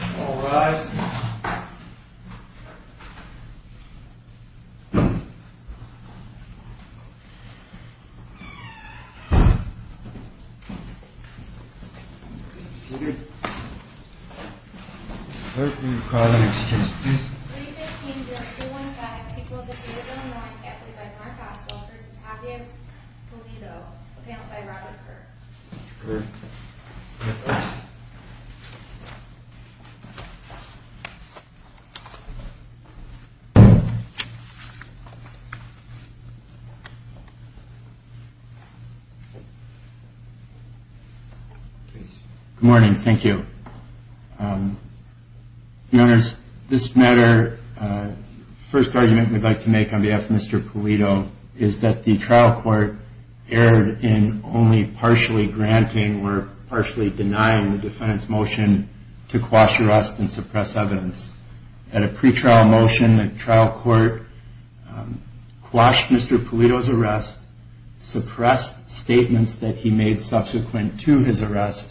All rise. Clerk, will you call the next case, please? 315-215, people of the 307-9, Epley by Mark Oswald v. Javier Pulido, appellant by Robert Kirk. Mr. Kirk. Good morning. Thank you. Your Honors, this matter, the first argument we'd like to make on behalf of Mr. Pulido is that the trial court erred in only partially granting or partially denying the defendant's motion to quash arrest and suppress evidence. At a pretrial motion, the trial court quashed Mr. Pulido's arrest, suppressed statements that he made subsequent to his arrest.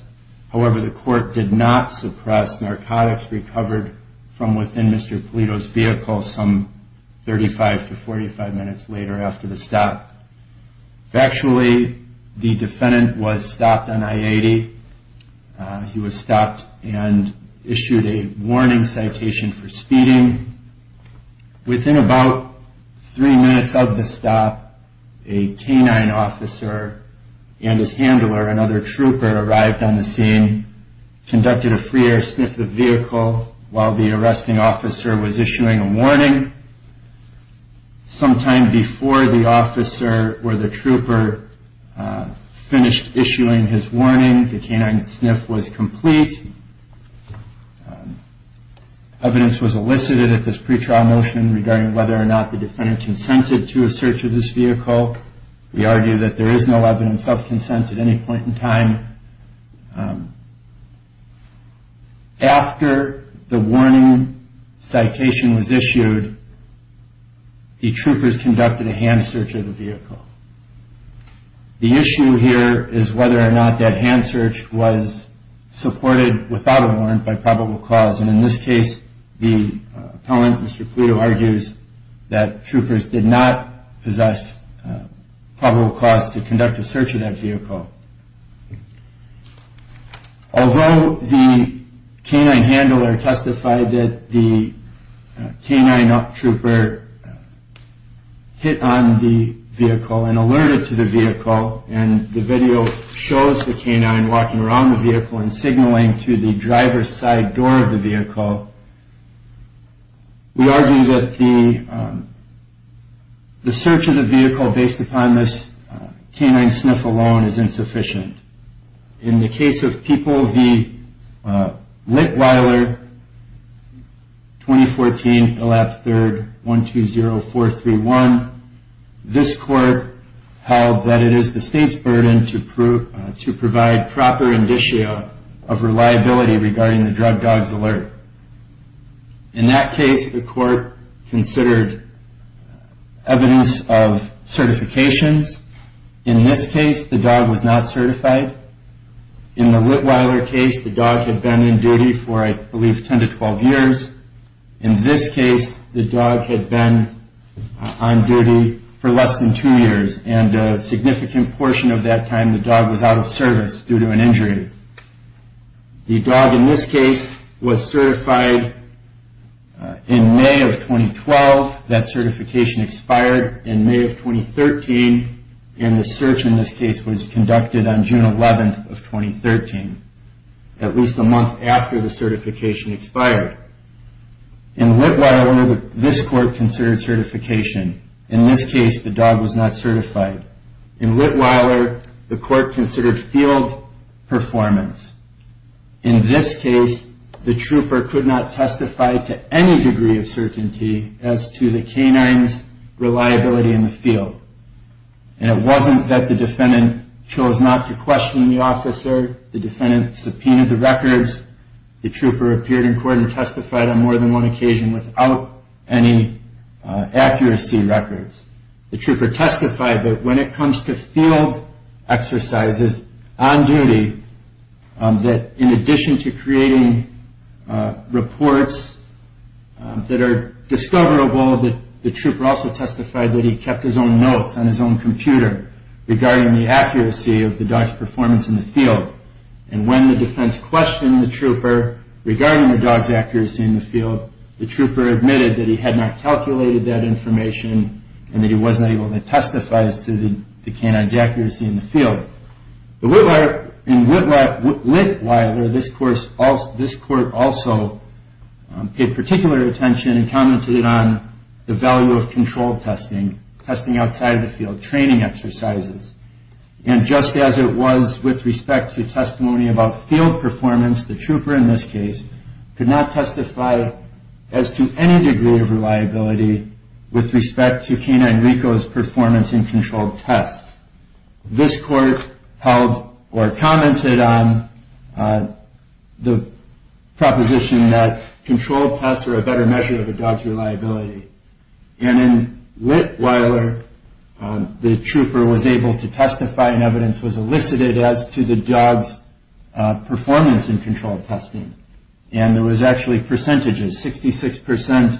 However, the court did not suppress. Narcotics recovered from within Mr. Pulido's vehicle some 35 to 45 minutes later after the stop. Factually, the defendant was stopped on I-80. He was stopped and issued a warning citation for speeding. Within about three minutes of the stop, a canine officer and his handler, another trooper, arrived on the scene, conducted a free air sniff of the vehicle while the arresting officer was issuing a warning. Sometime before the officer or the trooper finished issuing his warning, the canine sniff was complete. Evidence was elicited at this pretrial motion regarding whether or not the defendant consented to a search of this vehicle. We argue that there is no evidence of consent at any point in time. After the warning citation was issued, the troopers conducted a hand search of the vehicle. The issue here is whether or not that hand search was supported without a warrant by probable cause. And in this case, the appellant, Mr. Pulido, argues that troopers did not possess probable cause to conduct a search of that vehicle. Although the canine handler testified that the canine trooper hit on the vehicle and alerted to the vehicle, and the video shows the canine walking around the vehicle and signaling to the driver's side door of the vehicle, we argue that the search of the vehicle based upon this canine sniff alone is insufficient. In the case of People v. Lickweiler, 2014, ILAP 3rd, 120431, this court held that it is the state's burden to provide proper indicio of reliability regarding the drug dog's alert. In that case, the court considered evidence of certifications. In this case, the dog was not certified. In the Lickweiler case, the dog had been in duty for, I believe, 10 to 12 years. In this case, the dog had been on duty for less than two years, and a significant portion of that time the dog was out of service due to an injury. The dog in this case was certified in May of 2012. That certification expired in May of 2013, and the search in this case was conducted on June 11th of 2013, at least a month after the certification expired. In Lickweiler, this court considered certification. In this case, the dog was not certified. In Lickweiler, the court considered field performance. In this case, the trooper could not testify to any degree of certainty as to the canine's reliability in the field. And it wasn't that the defendant chose not to question the officer. The defendant subpoenaed the records. The trooper appeared in court and testified on more than one occasion without any accuracy records. The trooper testified that when it comes to field exercises on duty, that in addition to creating reports that are discoverable, the trooper also testified that he kept his own notes on his own computer regarding the accuracy of the dog's performance in the field. And when the defense questioned the trooper regarding the dog's accuracy in the field, the trooper admitted that he had not calculated that information and that he wasn't able to testify as to the canine's accuracy in the field. In Lickweiler, this court also paid particular attention and commented on the value of control testing, testing outside of the field, training exercises. And just as it was with respect to testimony about field performance, the trooper in this case could not testify as to any degree of reliability with respect to canine Rico's performance in controlled tests. This court held or commented on the proposition that controlled tests are a better measure of a dog's reliability. And in Lickweiler, the trooper was able to testify and evidence was elicited as to the dog's performance in controlled testing. And there was actually percentages, 66%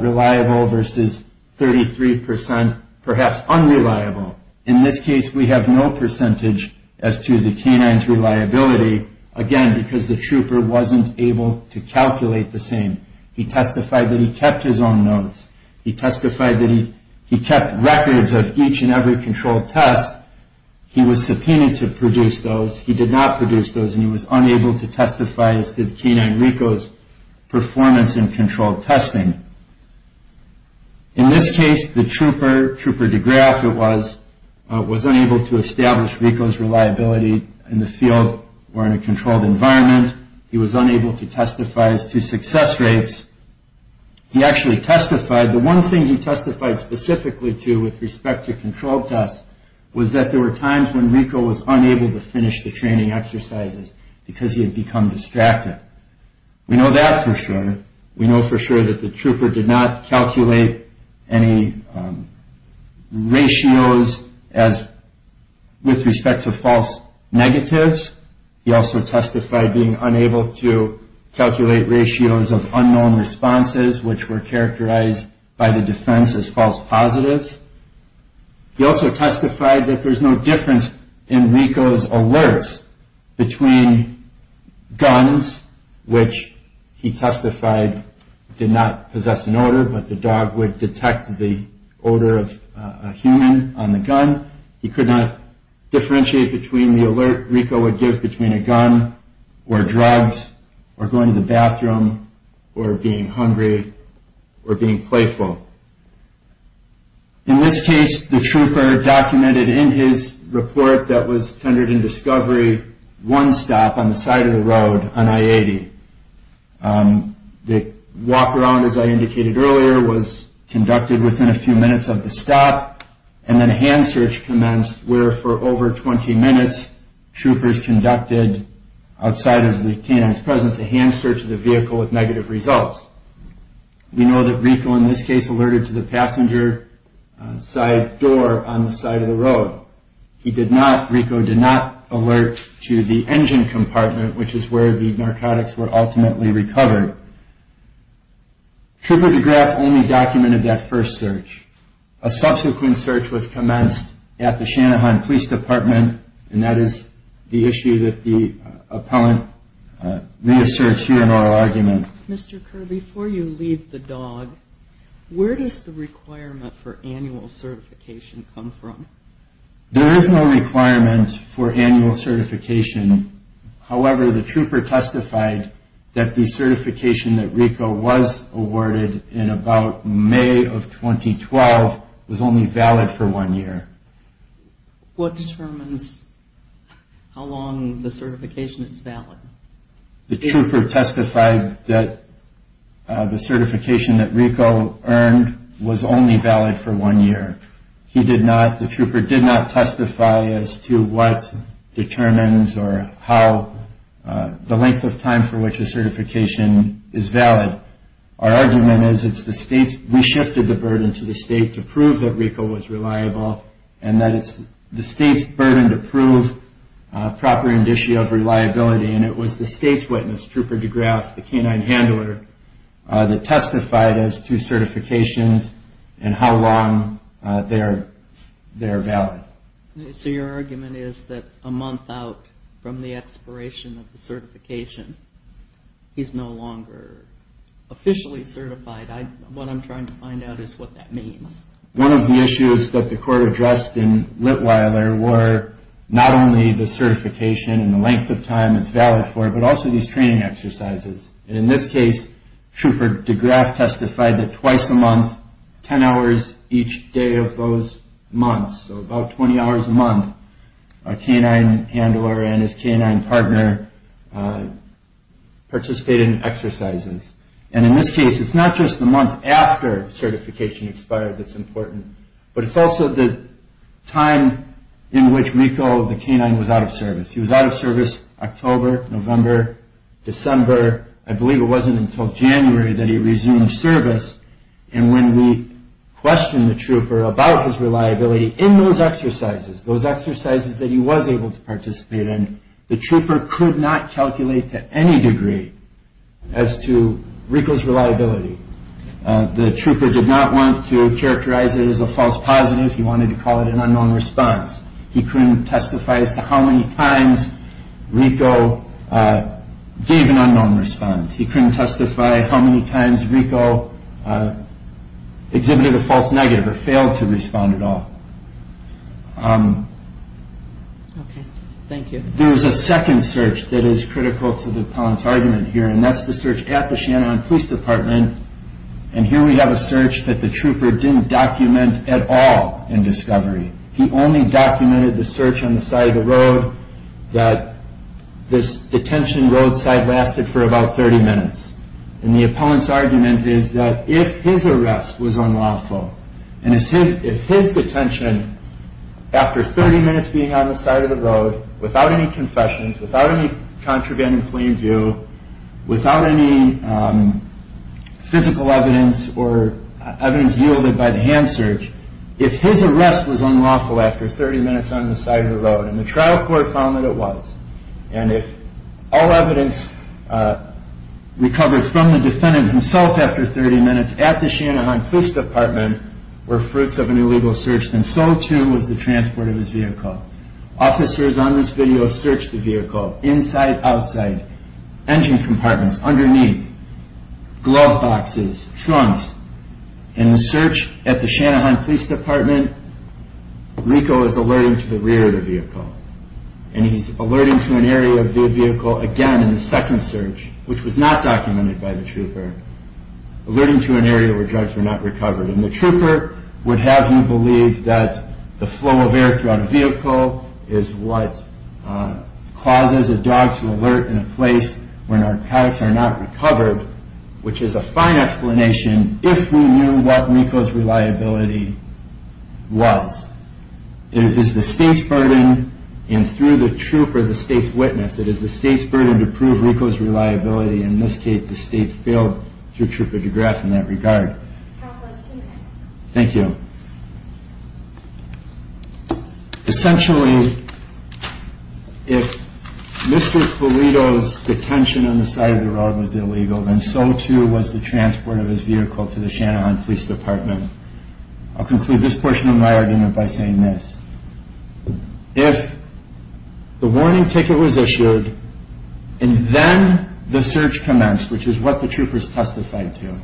reliable versus 33%, perhaps unreliable. In this case, we have no percentage as to the canine's reliability, again, because the trooper wasn't able to calculate the same. He testified that he kept his own notes. He testified that he kept records of each and every controlled test. He was subpoenaed to produce those. He did not produce those. And he was unable to testify as to the canine Rico's performance in controlled testing. In this case, the trooper, Trooper DeGraff, it was, was unable to establish Rico's reliability in the field or in a controlled environment. He was unable to testify as to success rates. He actually testified. The one thing he testified specifically to with respect to controlled tests was that there were times when Rico was unable to finish the training exercises because he had become distracted. We know that for sure. We know for sure that the trooper did not calculate any ratios as, with respect to false negatives. He also testified being unable to calculate ratios of unknown responses, which were characterized by the defense as false positives. He also testified that there's no difference in Rico's alerts between guns, which he testified did not possess an odor, but the dog would detect the odor of a human on the gun. He could not differentiate between the alert. Rico would give between a gun or drugs or going to the bathroom or being hungry or being playful. In this case, the trooper documented in his report that was tendered in discovery one stop on the side of the road on I-80. The walk around, as I indicated earlier, was conducted within a few minutes of the stop and then a hand search commenced where, for over 20 minutes, troopers conducted, outside of the canine's presence, a hand search of the vehicle with negative results. We know that Rico, in this case, alerted to the passenger side door on the side of the road. He did not, Rico did not alert to the engine compartment, which is where the narcotics were ultimately recovered. Trooper DeGraff only documented that first search. A subsequent search was commenced at the Shanahan Police Department and that is the issue that the appellant may assert here in our argument. Mr. Kerby, before you leave the dog, where does the requirement for annual certification come from? There is no requirement for annual certification. However, the trooper testified that the certification that Rico was awarded in about May of 2012 was only valid for one year. What determines how long the certification is valid? The trooper testified that the certification that Rico earned was only valid for one year. He did not, the trooper did not testify as to what determines or how the length of time for which a certification is valid. Our argument is it's the state's, we shifted the burden to the state to prove that Rico was reliable and that it's the state's burden to prove proper indicia of reliability and it was the state's witness, Trooper DeGraff, the canine handler, that testified as to certifications and how long they are valid. So your argument is that a month out from the expiration of the certification, he's no longer officially certified. What I'm trying to find out is what that means. One of the issues that the court addressed in Litweiler were not only the certification and the length of time it's valid for, but also these training exercises. And in this case, Trooper DeGraff testified that twice a month, 10 hours each day of those months, so about 20 hours a month, a canine handler and his canine partner participated in exercises. And in this case, it's not just the month after certification expired that's important, but it's also the time in which Rico, the canine, was out of service. He was out of service October, November, December. I believe it wasn't until January that he resumed service. And when we questioned the trooper about his reliability in those exercises, those exercises that he was able to participate in, the trooper could not calculate to any degree as to Rico's reliability. The trooper did not want to characterize it as a false positive. He wanted to call it an unknown response. He couldn't testify as to how many times Rico gave an unknown response. He couldn't testify how many times Rico exhibited a false negative or failed to respond at all. There is a second search that is critical to the appellant's argument here, and that's the search at the Shenanigans Police Department. And here we have a search that the trooper didn't document at all in discovery. He only documented the search on the side of the road that this detention roadside lasted for about 30 minutes. And the appellant's argument is that if his arrest was unlawful, and if his detention, after 30 minutes being on the side of the road, without any confessions, without any contraband and clean view, without any physical evidence or evidence yielded by the hand search, if his arrest was unlawful after 30 minutes on the side of the road, and the trial court found that it was, and if all evidence recovered from the defendant himself after 30 minutes at the Shenanigans Police Department were fruits of an illegal search, then so too was the transport of his vehicle. Officers on this video searched the vehicle, inside, outside, engine compartments, underneath, glove boxes, trunks. In the search at the Shenanigans Police Department, Rico is alerting to the rear of the vehicle. And he's alerting to an area of the vehicle again in the second search, which was not documented by the trooper, alerting to an area where drugs were not recovered. And the trooper would have him believe that the flow of air throughout a vehicle is what causes a dog to alert in a place where narcotics are not recovered, which is a fine explanation if we knew what Rico's reliability was. It is the state's burden, and through the trooper, the state's witness, it is the state's burden to prove Rico's reliability. In this case, the state failed through Trooper DeGraff in that regard. Counsel, I have two minutes. Thank you. Essentially, if Mr. Pulido's detention on the side of the road was illegal, then so too was the transport of his vehicle to the Shenanigans Police Department. I'll conclude this portion of my argument by saying this. If the warning ticket was issued, and then the search commenced, which is what the troopers testified to,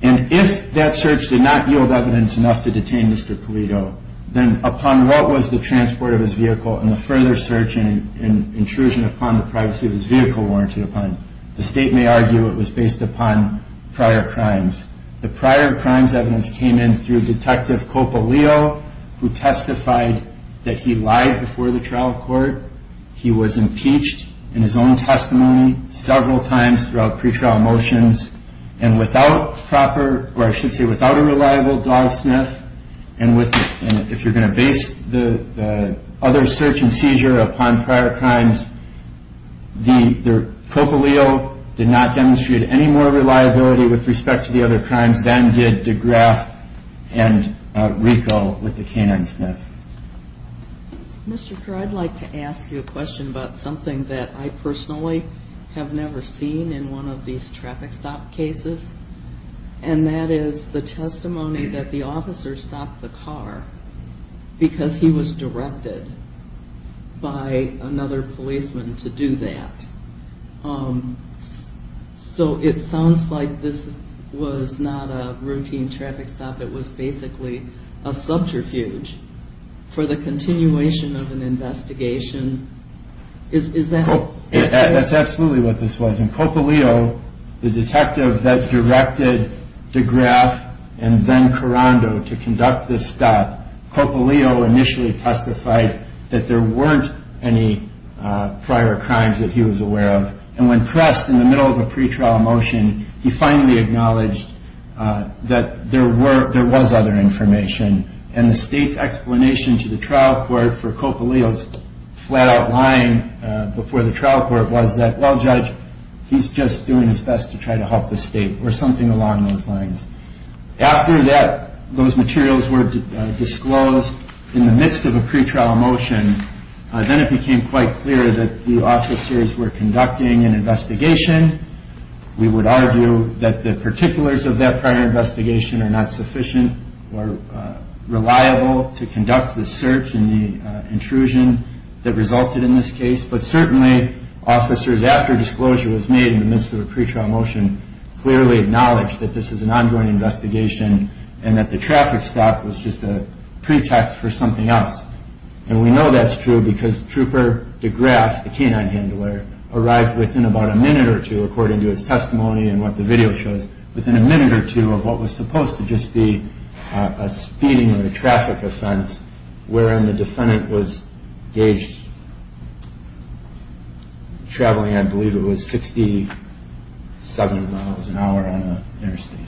and if that search did not yield evidence enough to detain Mr. Pulido, then upon what was the transport of his vehicle, and the further search and intrusion upon the privacy of his vehicle warranted upon, the state may argue it was based upon prior crimes. The prior crimes evidence came in through Detective Copolio, who testified that he lied before the trial court. He was impeached in his own testimony several times throughout pre-trial motions, and without proper, or I should say without a reliable dog sniff, and if you're going to base the other search and seizure upon prior crimes, Copolio did not demonstrate any more reliability with respect to the other crimes than did DeGraff and Rico with the canine sniff. Mr. Kerr, I'd like to ask you a question about something that I personally have never seen in one of these traffic stop cases, and that is the testimony that the officer stopped the car because he was directed by another policeman to do that. So it sounds like this was not a routine traffic stop, it was basically a subterfuge for the continuation of an investigation. Is that correct? That's absolutely what this was, and Copolio, the detective that directed DeGraff and then Carando to conduct this stop, Copolio initially testified that there weren't any prior crimes that he was aware of, and when pressed in the middle of a pre-trial motion, he finally acknowledged that there was other information, and the state's explanation to the trial court for Copolio's flat-out lying before the trial court was that, well, Judge, he's just doing his best to try to help the state, or something along those lines. After those materials were disclosed in the midst of a pre-trial motion, then it became quite clear that the officers were conducting an investigation, we would argue that the particulars of that prior investigation are not sufficient or reliable to conduct the search and the intrusion that resulted in this case, but certainly officers, after disclosure was made in the midst of a pre-trial motion, clearly acknowledged that this is an ongoing investigation and that the traffic stop was just a pretext for something else. And we know that's true because Trooper DeGraff, the canine handler, arrived within about a minute or two, according to his testimony and what the video shows, within a minute or two of what was supposed to just be a speeding or a traffic offense, wherein the defendant was gauged traveling, I believe it was, 67 miles an hour on an interstate.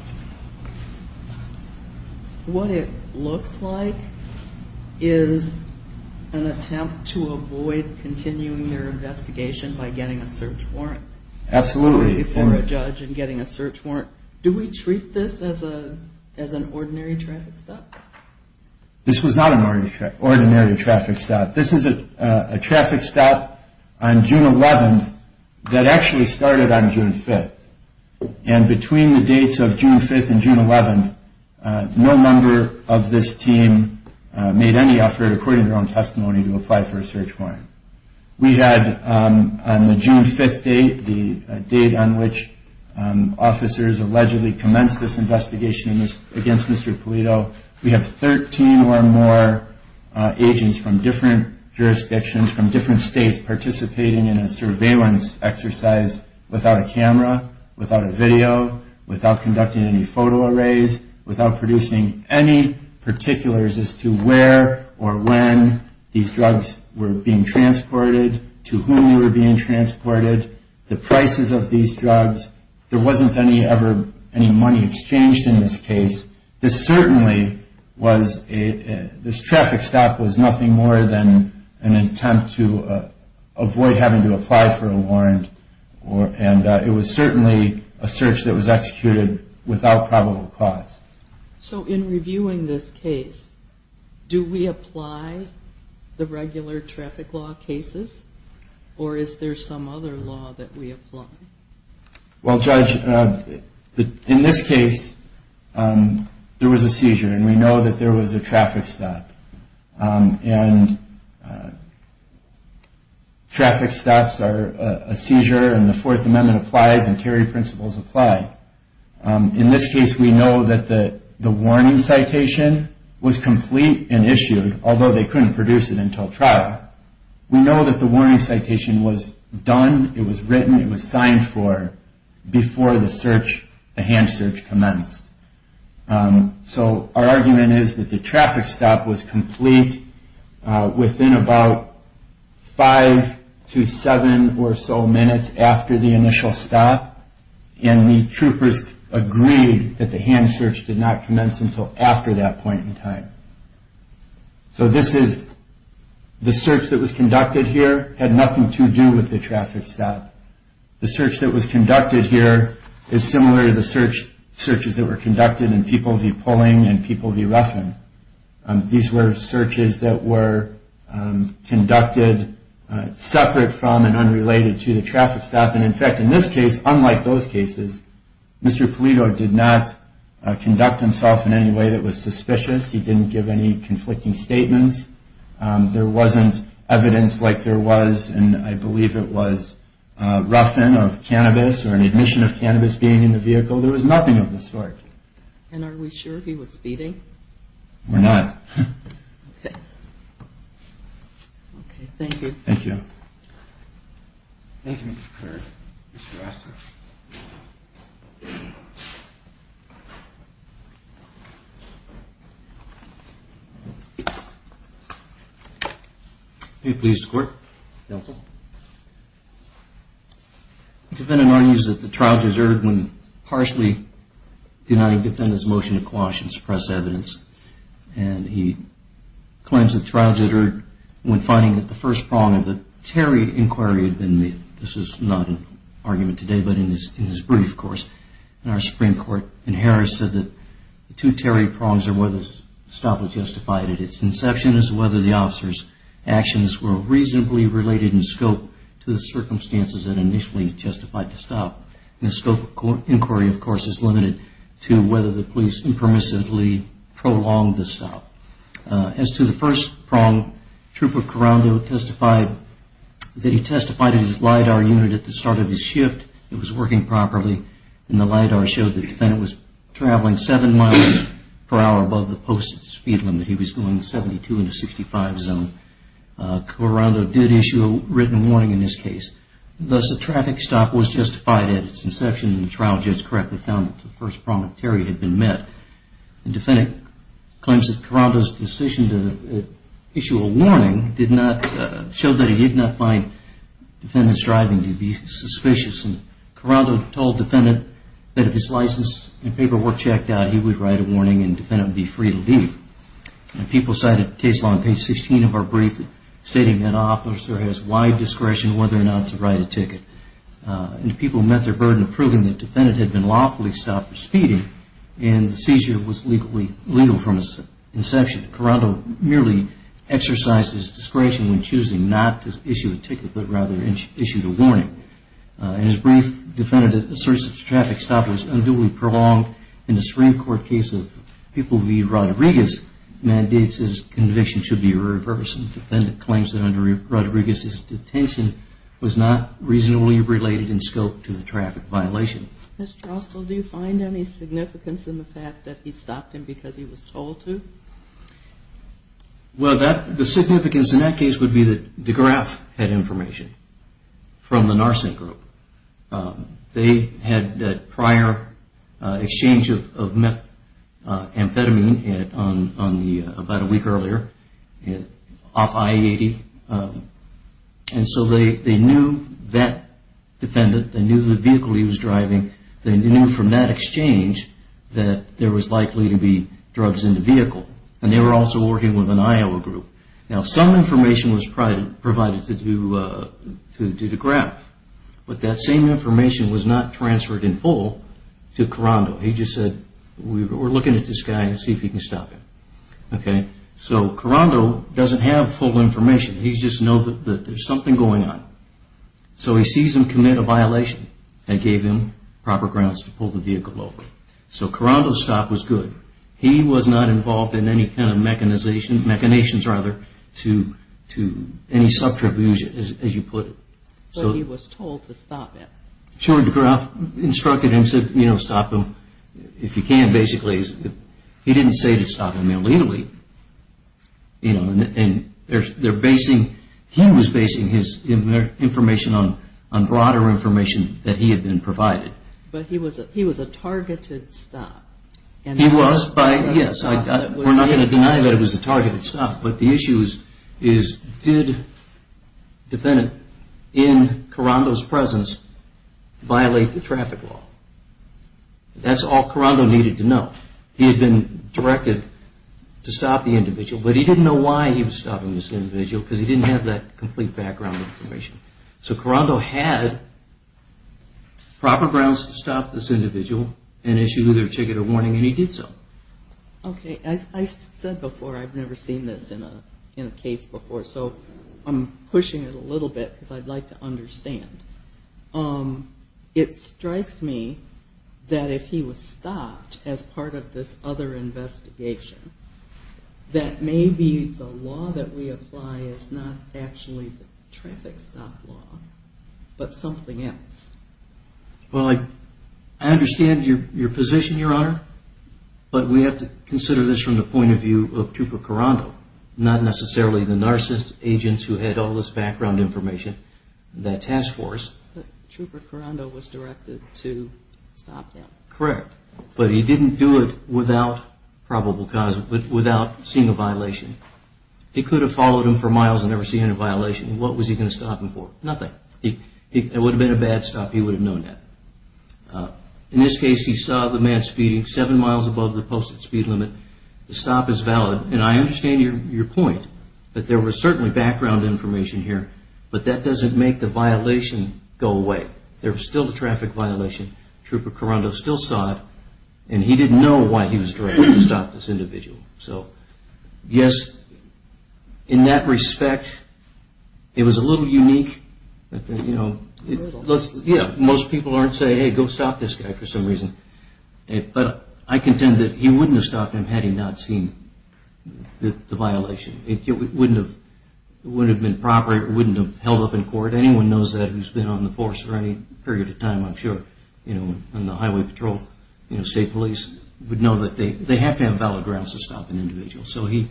What it looks like is an attempt to avoid continuing your investigation by getting a search warrant. Absolutely. For a judge and getting a search warrant. Do we treat this as an ordinary traffic stop? This was not an ordinary traffic stop. This is a traffic stop on June 11th that actually started on June 5th. And between the dates of June 5th and June 11th, no member of this team made any effort, according to their own testimony, to apply for a search warrant. We had, on the June 5th date, the date on which officers allegedly commenced this investigation against Mr. Polito, we have 13 or more agents from different jurisdictions, from different states, participating in a surveillance exercise without a camera, without a video, without conducting any photo arrays, without producing any particulars as to where or when these drugs were being transported, to whom they were being transported, the prices of these drugs. There wasn't any money exchanged in this case. This traffic stop was nothing more than an attempt to avoid having to apply for a warrant. And it was certainly a search that was executed without probable cause. So in reviewing this case, do we apply the regular traffic law cases? Or is there some other law that we apply? Well, Judge, in this case, there was a seizure. And we know that there was a traffic stop. And traffic stops are a seizure, and the Fourth Amendment applies, and tariff principles apply. In this case, we know that the warning citation was complete and issued, although they couldn't produce it until trial. We know that the warning citation was done. It was written. It was signed for before the search, the hand search, commenced. So our argument is that the traffic stop was complete within about five to seven or so minutes after the initial stop. And the troopers agreed that the hand search did not commence until after that point in time. So this is the search that was conducted here had nothing to do with the traffic stop. The search that was conducted here is similar to the searches that were conducted in Peoples v. Pulling and Peoples v. Ruffin. These were searches that were conducted separate from and unrelated to the traffic stop. And, in fact, in this case, unlike those cases, Mr. Polito did not conduct himself in any way that was suspicious. He didn't give any conflicting statements. There wasn't evidence like there was in, I believe it was, Ruffin of cannabis or an admission of cannabis being in the vehicle. There was nothing of the sort. And are we sure he was speeding? We're not. Okay, thank you. Thank you. Thank you, Mr. Curran. Mr. Raskin. May it please the Court. Counsel. The defendant argues that the trial deterred when partially denying the defendant's motion to quash and suppress evidence. And he claims the trial deterred when finding that the first prong of the Terry inquiry had been made. This is not an argument today, but in his brief, of course. And our Supreme Court in Harris said that the two Terry prongs are whether the stop was justified at its inception as to whether the officer's actions were reasonably related in scope to the circumstances that initially justified the stop. And the scope of inquiry, of course, is limited to whether the police impermissibly prolonged the stop. As to the first prong, Trooper Corando testified that he testified at his LIDAR unit at the start of his shift. It was working properly, and the LIDAR showed the defendant was traveling seven miles per hour above the posted speed limit. He was going 72 in a 65 zone. Corando did issue a written warning in this case. Thus, the traffic stop was justified at its inception. And the trial judge correctly found that the first prong of Terry had been met. And the defendant claims that Corando's decision to issue a warning showed that he did not find the defendant's driving to be suspicious. And Corando told the defendant that if his license and paperwork checked out, he would write a warning and the defendant would be free to leave. People cited case law on page 16 of our brief stating that an officer has wide discretion whether or not to write a ticket. And people met their burden of proving that the defendant had been lawfully stopped for speeding, and the seizure was legal from its inception. Corando merely exercised his discretion when choosing not to issue a ticket, but rather issued a warning. In his brief, the defendant asserts that the traffic stop was unduly prolonged. In the Supreme Court case of People v. Rodriguez, mandates his conviction should be reversed. The defendant claims that under Rodriguez's detention was not reasonably related in scope to the traffic violation. Ms. Drostel, do you find any significance in the fact that he stopped him because he was told to? Well, the significance in that case would be that DeGraff had information from the Narsink Group. They had that prior exchange of methamphetamine about a week earlier off I-80. And so they knew that defendant, they knew the vehicle he was driving, they knew from that exchange that there was likely to be drugs in the vehicle. And they were also working with an Iowa group. Now, some information was provided to DeGraff, but that same information was not transferred in full to Corando. He just said, we're looking at this guy to see if he can stop him. So, Corando doesn't have full information. He just knows that there's something going on. So, he sees him commit a violation that gave him proper grounds to pull the vehicle over. So, Corando's stop was good. He was not involved in any kind of mechanizations to any subterfuge, as you put it. But he was told to stop him. Sure, DeGraff instructed him to stop him if he can, basically. He didn't say to stop him illegally. He was basing his information on broader information that he had been provided. But he was a targeted stop. He was, yes. We're not going to deny that it was a targeted stop. But the issue is, did a defendant in Corando's presence violate the traffic law? That's all Corando needed to know. He had been directed to stop the individual, but he didn't know why he was stopping this individual, because he didn't have that complete background information. So, Corando had proper grounds to stop this individual and issued either a ticket or warning, and he did so. Okay. As I said before, I've never seen this in a case before, so I'm pushing it a little bit because I'd like to understand. It strikes me that if he was stopped as part of this other investigation, that maybe the law that we apply is not actually the traffic stop law, but something else. Well, I understand your position, Your Honor, but we have to consider this from the point of view of Trooper Corando, not necessarily the narcissist agents who had all this background information in that task force. But Trooper Corando was directed to stop them. Correct. But he didn't do it without seeing a violation. He could have followed him for miles and never seen any violation. What was he going to stop him for? Nothing. It would have been a bad stop. He would have known that. In this case, he saw the man speeding seven miles above the posted speed limit. The stop is valid, and I understand your point that there was certainly background information here, but that doesn't make the violation go away. There was still the traffic violation. Trooper Corando still saw it, and he didn't know why he was directed to stop this individual. So, yes, in that respect, it was a little unique. Most people aren't saying, hey, go stop this guy for some reason. But I contend that he wouldn't have stopped him had he not seen the violation. It wouldn't have been proper. It wouldn't have held up in court. If anyone knows that who's been on the force for any period of time, I'm sure, on the highway patrol, state police, would know that they have to have valid grounds to stop an individual. So he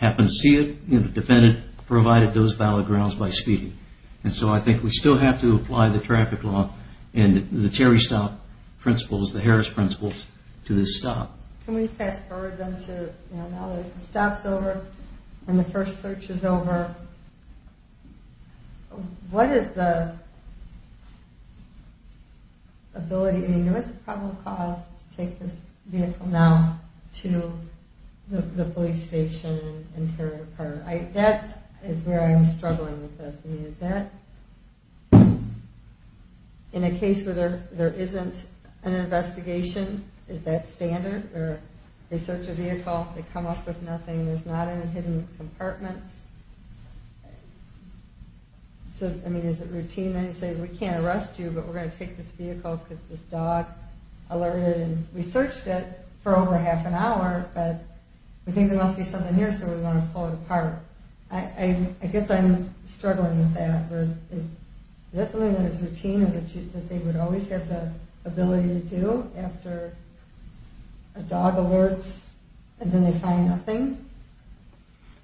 happened to see it, defended it, provided those valid grounds by speeding. And so I think we still have to apply the traffic law and the Terry stop principles, the Harris principles to this stop. Can we fast forward them to now that the stop's over and the first search is over? What is the ability? I mean, what's the probable cause to take this vehicle now to the police station and carry it apart? That is where I'm struggling with this. I mean, is that in a case where there isn't an investigation, is that standard? Or they search a vehicle, they come up with nothing, there's not any hidden compartments? So, I mean, is it routine then to say, we can't arrest you, but we're going to take this vehicle because this dog alerted and we searched it for over half an hour, but we think there must be something here, so we want to pull it apart. I guess I'm struggling with that. Is that something that is routine or that they would always have the ability to do after a dog alerts and then they find nothing?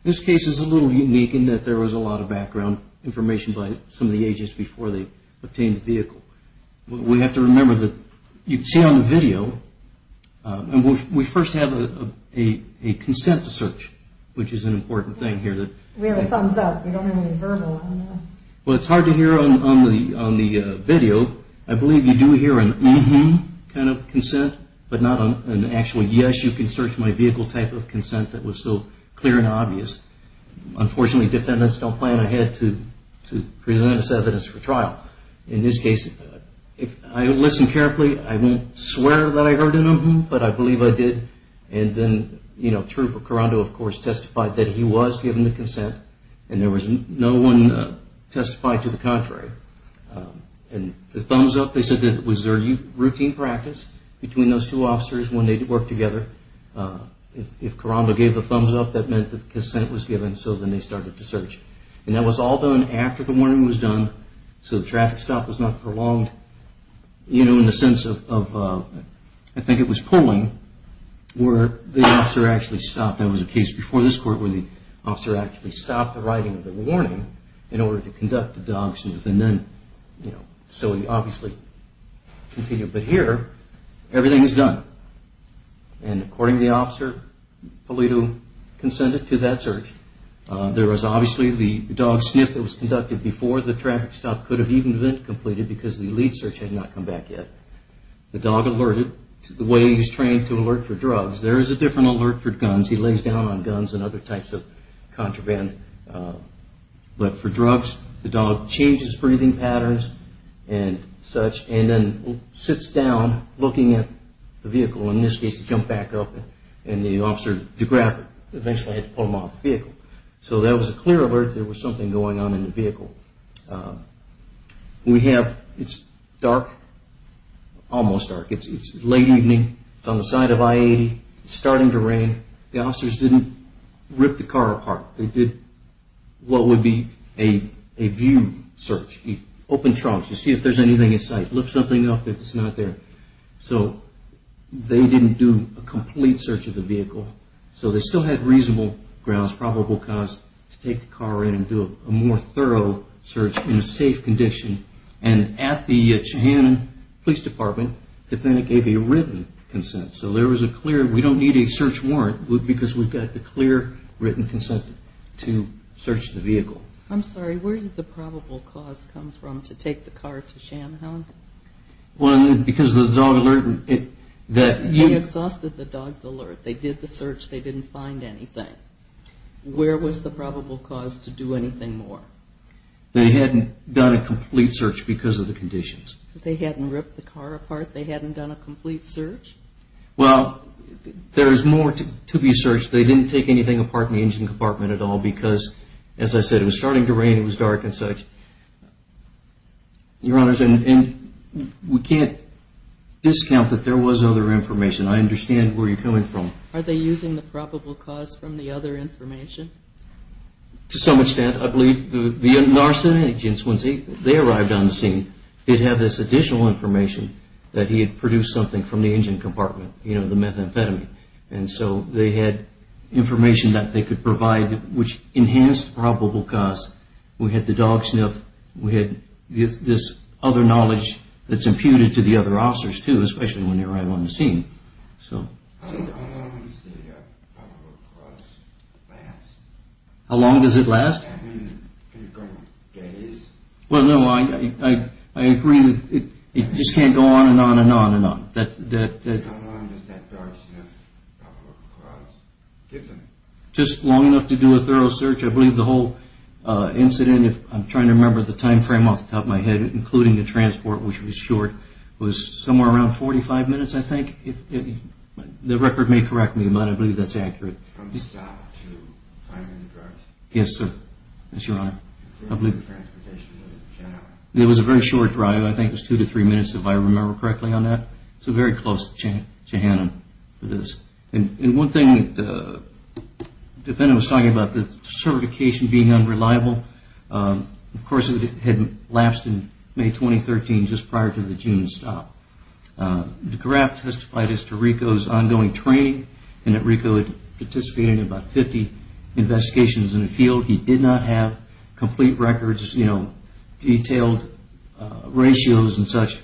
This case is a little unique in that there was a lot of background information by some of the agents before they obtained the vehicle. We have to remember that you can see on the video, we first have a consent to search, which is an important thing here. We have a thumbs up, we don't have any verbal, I don't know. Well, it's hard to hear on the video. I believe you do hear an uh-huh kind of consent, but not an actual yes, you can search my vehicle type of consent that was so clear and obvious. Unfortunately, defendants don't plan ahead to present this evidence for trial. In this case, if I listen carefully, I won't swear that I heard an uh-huh, but I believe I did. And then, you know, Truper Carando, of course, testified that he was given the consent and there was no one testified to the contrary. And the thumbs up, they said that it was their routine practice between those two officers when they worked together. If Carando gave a thumbs up, that meant that consent was given, so then they started to search. And that was all done after the warning was done, so the traffic stop was not prolonged, you know, in the sense of, I think it was pulling, where the officer actually stopped. There was a case before this court where the officer actually stopped the writing of the warning in order to conduct the dog sniff, and then, you know, so he obviously continued. But here, everything is done. And according to the officer, Polito consented to that search. There was obviously the dog sniff that was conducted before the traffic stop could have even been completed because the lead search had not come back yet. The dog alerted the way he was trained to alert for drugs. There is a different alert for guns. He lays down on guns and other types of contraband. But for drugs, the dog changes breathing patterns and such, and then sits down, looking at the vehicle. In this case, he jumped back up, and the officer de-graphed it. Eventually, I had to pull him off the vehicle. So that was a clear alert there was something going on in the vehicle. We have, it's dark, almost dark. It's late evening. It's on the side of I-80. It's starting to rain. The officers didn't rip the car apart. They did what would be a view search, open trunks to see if there's anything in sight, lift something up if it's not there. So they didn't do a complete search of the vehicle. So they still had reasonable grounds, probable cause, to take the car in and do a more thorough search in a safe condition. And at the Cheyenne Police Department, the defendant gave a written consent. So there was a clear, we don't need a search warrant, because we've got the clear written consent to search the vehicle. I'm sorry. Where did the probable cause come from to take the car to Shamhound? Well, because of the dog alert. They exhausted the dog's alert. They did the search. They didn't find anything. Where was the probable cause to do anything more? They hadn't done a complete search because of the conditions. They hadn't ripped the car apart? They hadn't done a complete search? Well, there is more to be searched. They didn't take anything apart in the engine compartment at all because, as I said, it was starting to rain, it was dark and such. Your Honors, we can't discount that there was other information. I understand where you're coming from. Are they using the probable cause from the other information? To some extent. I believe the NARSA agents, once they arrived on the scene, did have this additional information that he had produced something from the engine compartment, you know, the methamphetamine. And so they had information that they could provide which enhanced probable cause. We had the dog sniff. We had this other knowledge that's imputed to the other officers too, especially when they arrived on the scene. How long does the probable cause last? How long does it last? I mean, can it go days? Well, no, I agree that it just can't go on and on and on and on. How long does that dog sniff probable cause give them? Just long enough to do a thorough search. I believe the whole incident, if I'm trying to remember the time frame off the top of my head, including the transport, which was short, was somewhere around 45 minutes, I think. The record may correct me, but I believe that's accurate. From the stop to finding the drugs? Yes, sir. Yes, Your Honor. Including the transportation to the jail? It was a very short drive. I think it was two to three minutes, if I remember correctly on that. So very close to Hanna for this. And one thing the defendant was talking about, the certification being unreliable, of course, it had lapsed in May 2013, just prior to the June stop. The draft testified as to Rico's ongoing training, and that Rico had participated in about 50 investigations in the field. He did not have complete records, you know, detailed ratios and such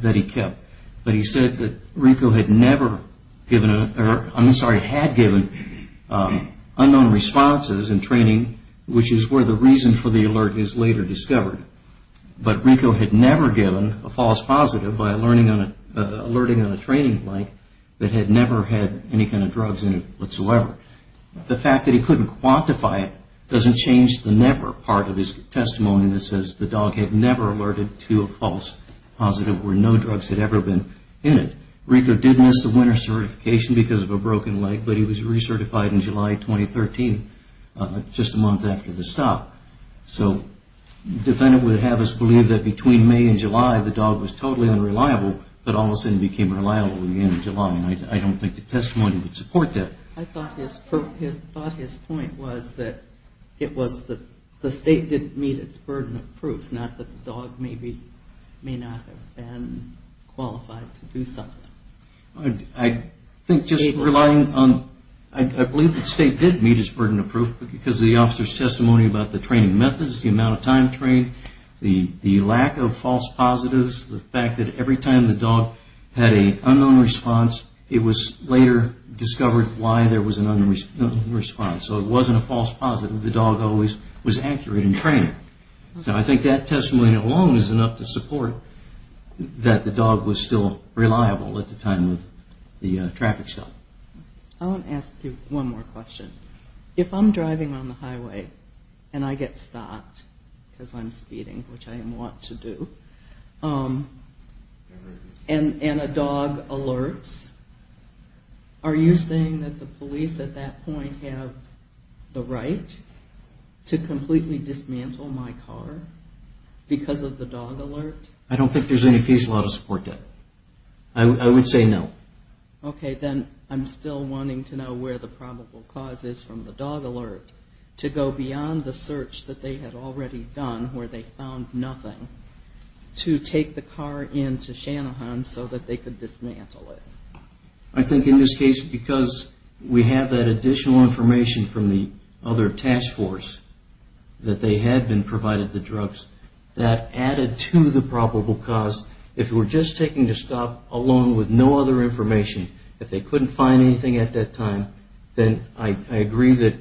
that he kept. But he said that Rico had never given, or I'm sorry, had given unknown responses in training, which is where the reason for the alert is later discovered. But Rico had never given a false positive by alerting on a training blank that had never had any kind of drugs in it whatsoever. The fact that he couldn't quantify it doesn't change the never part of his testimony that says the dog had never alerted to a false positive where no drugs had ever been in it. Rico did miss the winter certification because of a broken leg, but he was recertified in July 2013, just a month after the stop. So the defendant would have us believe that between May and July the dog was totally unreliable, but all of a sudden became reliable at the end of July, and I don't think the testimony would support that. I thought his point was that it was the state didn't meet its burden of proof, not that the dog may not have been qualified to do something. I think just relying on, I believe the state did meet its burden of proof because of the officer's testimony about the training methods, the amount of time trained, the lack of false positives, the fact that every time the dog had an unknown response, it was later discovered why there was an unknown response. So it wasn't a false positive, the dog always was accurate in training. So I think that testimony alone is enough to support that the dog was still reliable at the time of the traffic stop. I want to ask you one more question. If I'm driving on the highway and I get stopped because I'm speeding, which I am wont to do, and a dog alerts, are you saying that the police at that point have the right to completely dismantle my car because of the dog alert? I don't think there's any case law to support that. I would say no. Okay, then I'm still wanting to know where the probable cause is from the dog alert to go beyond the search that they had already done where they found nothing to take the car into Shanahan so that they could dismantle it. I think in this case, because we have that additional information from the other task force that they had been provided the drugs, that added to the probable cause. If we're just taking the stop alone with no other information, if they couldn't find anything at that time, then I agree that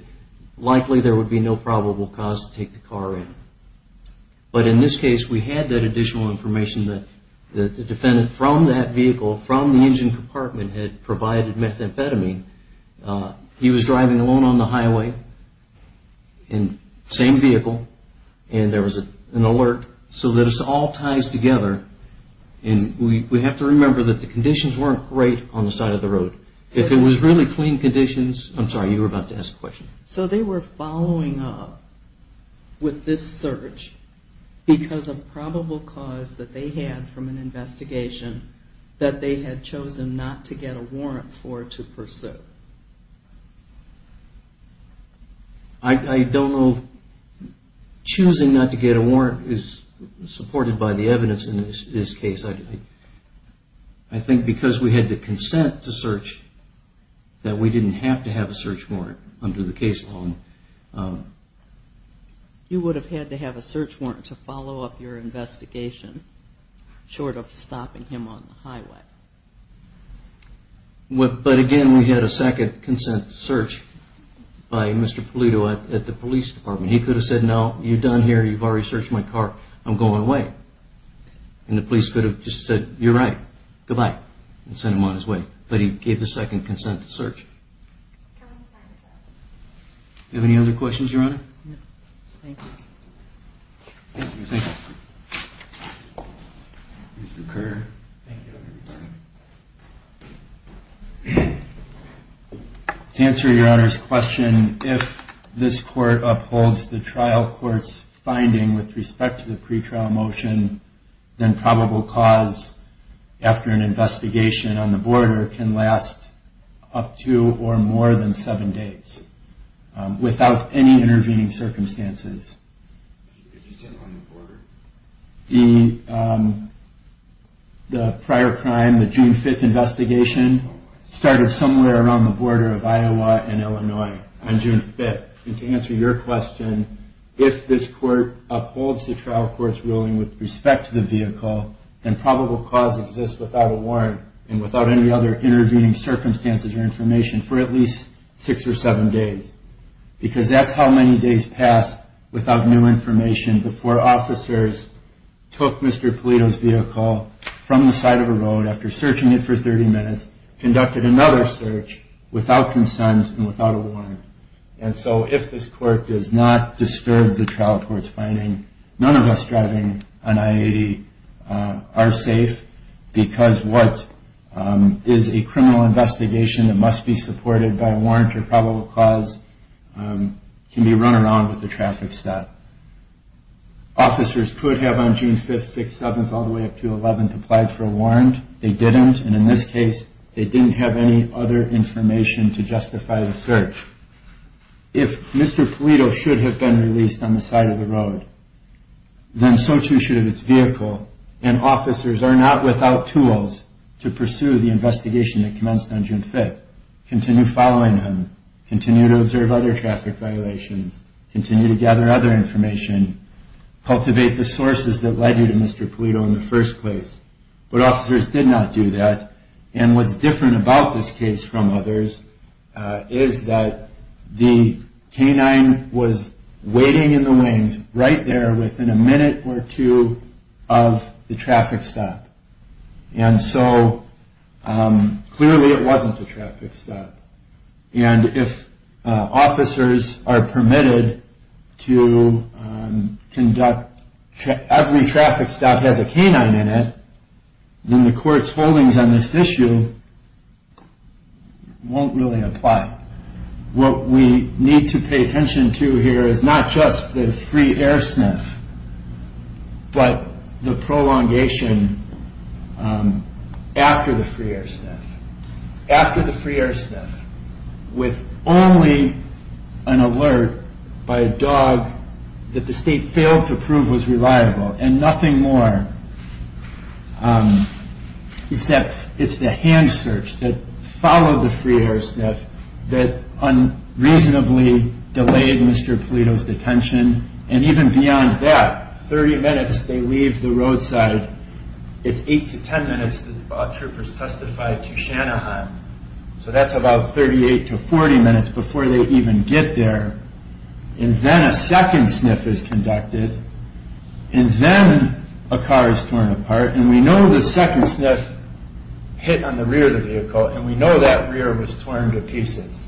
likely there would be no probable cause to take the car in. But in this case, we had that additional information that the defendant from that vehicle, from the engine compartment, had provided methamphetamine. He was driving alone on the highway in the same vehicle, and there was an alert so that it all ties together. And we have to remember that the conditions weren't great on the side of the road. If it was really clean conditions, I'm sorry, you were about to ask a question. So they were following up with this search because of probable cause that they had from an investigation that they had chosen not to get a warrant for to pursue. I don't know if choosing not to get a warrant is supported by the evidence in this case. I think because we had the consent to search, that we didn't have to have a search warrant under the case law. You would have had to have a search warrant to follow up your investigation, short of stopping him on the highway. But again, we had a second consent to search by Mr. Polito at the police department. He could have said, no, you're done here, you've already searched my car, I'm going away. And the police could have just said, you're right, goodbye, and sent him on his way. But he gave the second consent to search. Do you have any other questions, Your Honor? To answer Your Honor's question, if this court upholds the trial court's finding with respect to the pretrial motion, then probable cause after an investigation on the border can last up to or more than seven days, without any intervening circumstances. The prior crime, the June 5th investigation, started somewhere around the border of Iowa and Illinois on June 5th. And to answer your question, if this court upholds the trial court's ruling with respect to the vehicle, then probable cause exists without a warrant and without any other intervening circumstances or information for at least six or seven days. Because that's how many days pass without new information before officers took Mr. Polito's vehicle from the side of the road, after searching it for 30 minutes, conducted another search without consent and without a warrant. And so if this court does not disturb the trial court's finding, none of us driving on I-80 are safe, because what is a criminal investigation that must be supported by a warrant or probable cause can be run around with a traffic stop. Officers could have, on June 5th, 6th, 7th, all the way up to 11th, applied for a warrant. They didn't. And in this case, they didn't have any other information to justify the search. If Mr. Polito should have been released on the side of the road, then so too should have his vehicle. And officers are not without tools to pursue the investigation that commenced on June 5th, continue following him, continue to observe other traffic violations, continue to gather other information, cultivate the sources that led you to Mr. Polito in the first place. But officers did not do that. And what's different about this case from others is that the canine was waiting in the wings right there within a minute or two of the traffic stop. And so clearly it wasn't a traffic stop. And if officers are permitted to conduct every traffic stop that has a canine in it, then the court's holdings on this issue won't really apply. What we need to pay attention to here is not just the free air sniff, but the prolongation after the free air sniff. After the free air sniff with only an alert by a dog that the state failed to prove was reliable and nothing more. It's the hand search that followed the free air sniff that unreasonably delayed Mr. Polito's detention. And even beyond that, 30 minutes they leave the roadside. It's 8 to 10 minutes the troopers testified to Shanahan. So that's about 38 to 40 minutes before they even get there. And then a second sniff is conducted. And then a car is torn apart. And we know the second sniff hit on the rear of the vehicle. And we know that rear was torn to pieces.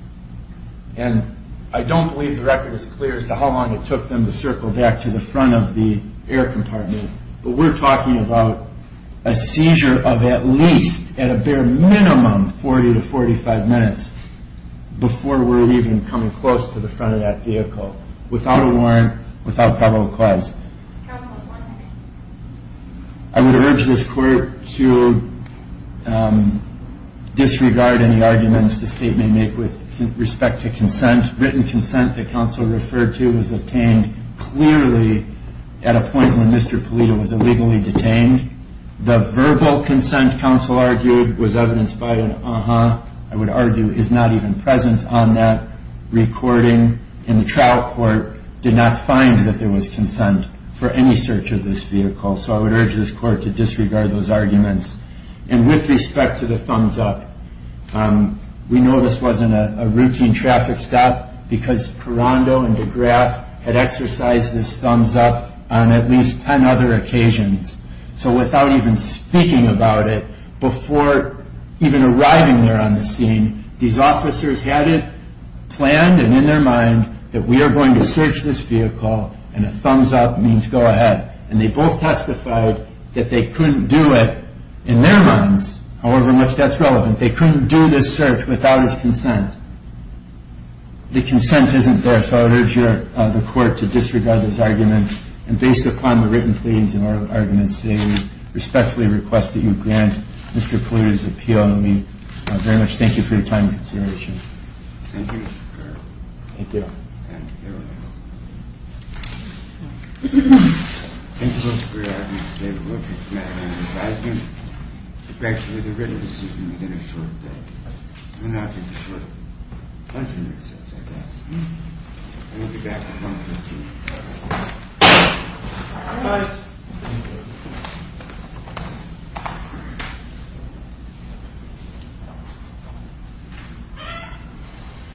And I don't believe the record is clear as to how long it took them to circle back to the front of the air compartment. But we're talking about a seizure of at least, at a bare minimum, 40 to 45 minutes before we're even coming close to the front of that vehicle. Without a warrant, without probable cause. I would urge this court to disregard any arguments the state may make with respect to written consent that counsel referred to was obtained clearly at a point when Mr. Polito was illegally detained. The verbal consent counsel argued was evidenced by an uh-huh. I would argue is not even present on that recording. And the trial court did not find that there was consent for any search of this vehicle. So I would urge this court to disregard those arguments. And with respect to the thumbs up, we know this wasn't a routine traffic stop because Carando and DeGraff had exercised this thumbs up on at least 10 other occasions. So without even speaking about it, before even arriving there on the scene, these officers had it planned and in their mind that we are going to search this vehicle and a thumbs up means go ahead. And they both testified that they couldn't do it in their minds, however much that's relevant. They couldn't do this search without his consent. The consent isn't there. So I would urge the court to disregard those arguments. And based upon the written pleadings and oral arguments today, we respectfully request that you grant Mr. Polito's appeal. And we very much thank you for your time and consideration. Thank you, Mr. Carroll. Thank you. Thank you. There we go. Thank you, Mr. Carroll. Thank you for your argument today. We look forward to hearing your advisement. Thank you for the written decision to get a short break. And we'll now take a short lunch and recess, I guess. And we'll be back at 1.15. Good night. Good night.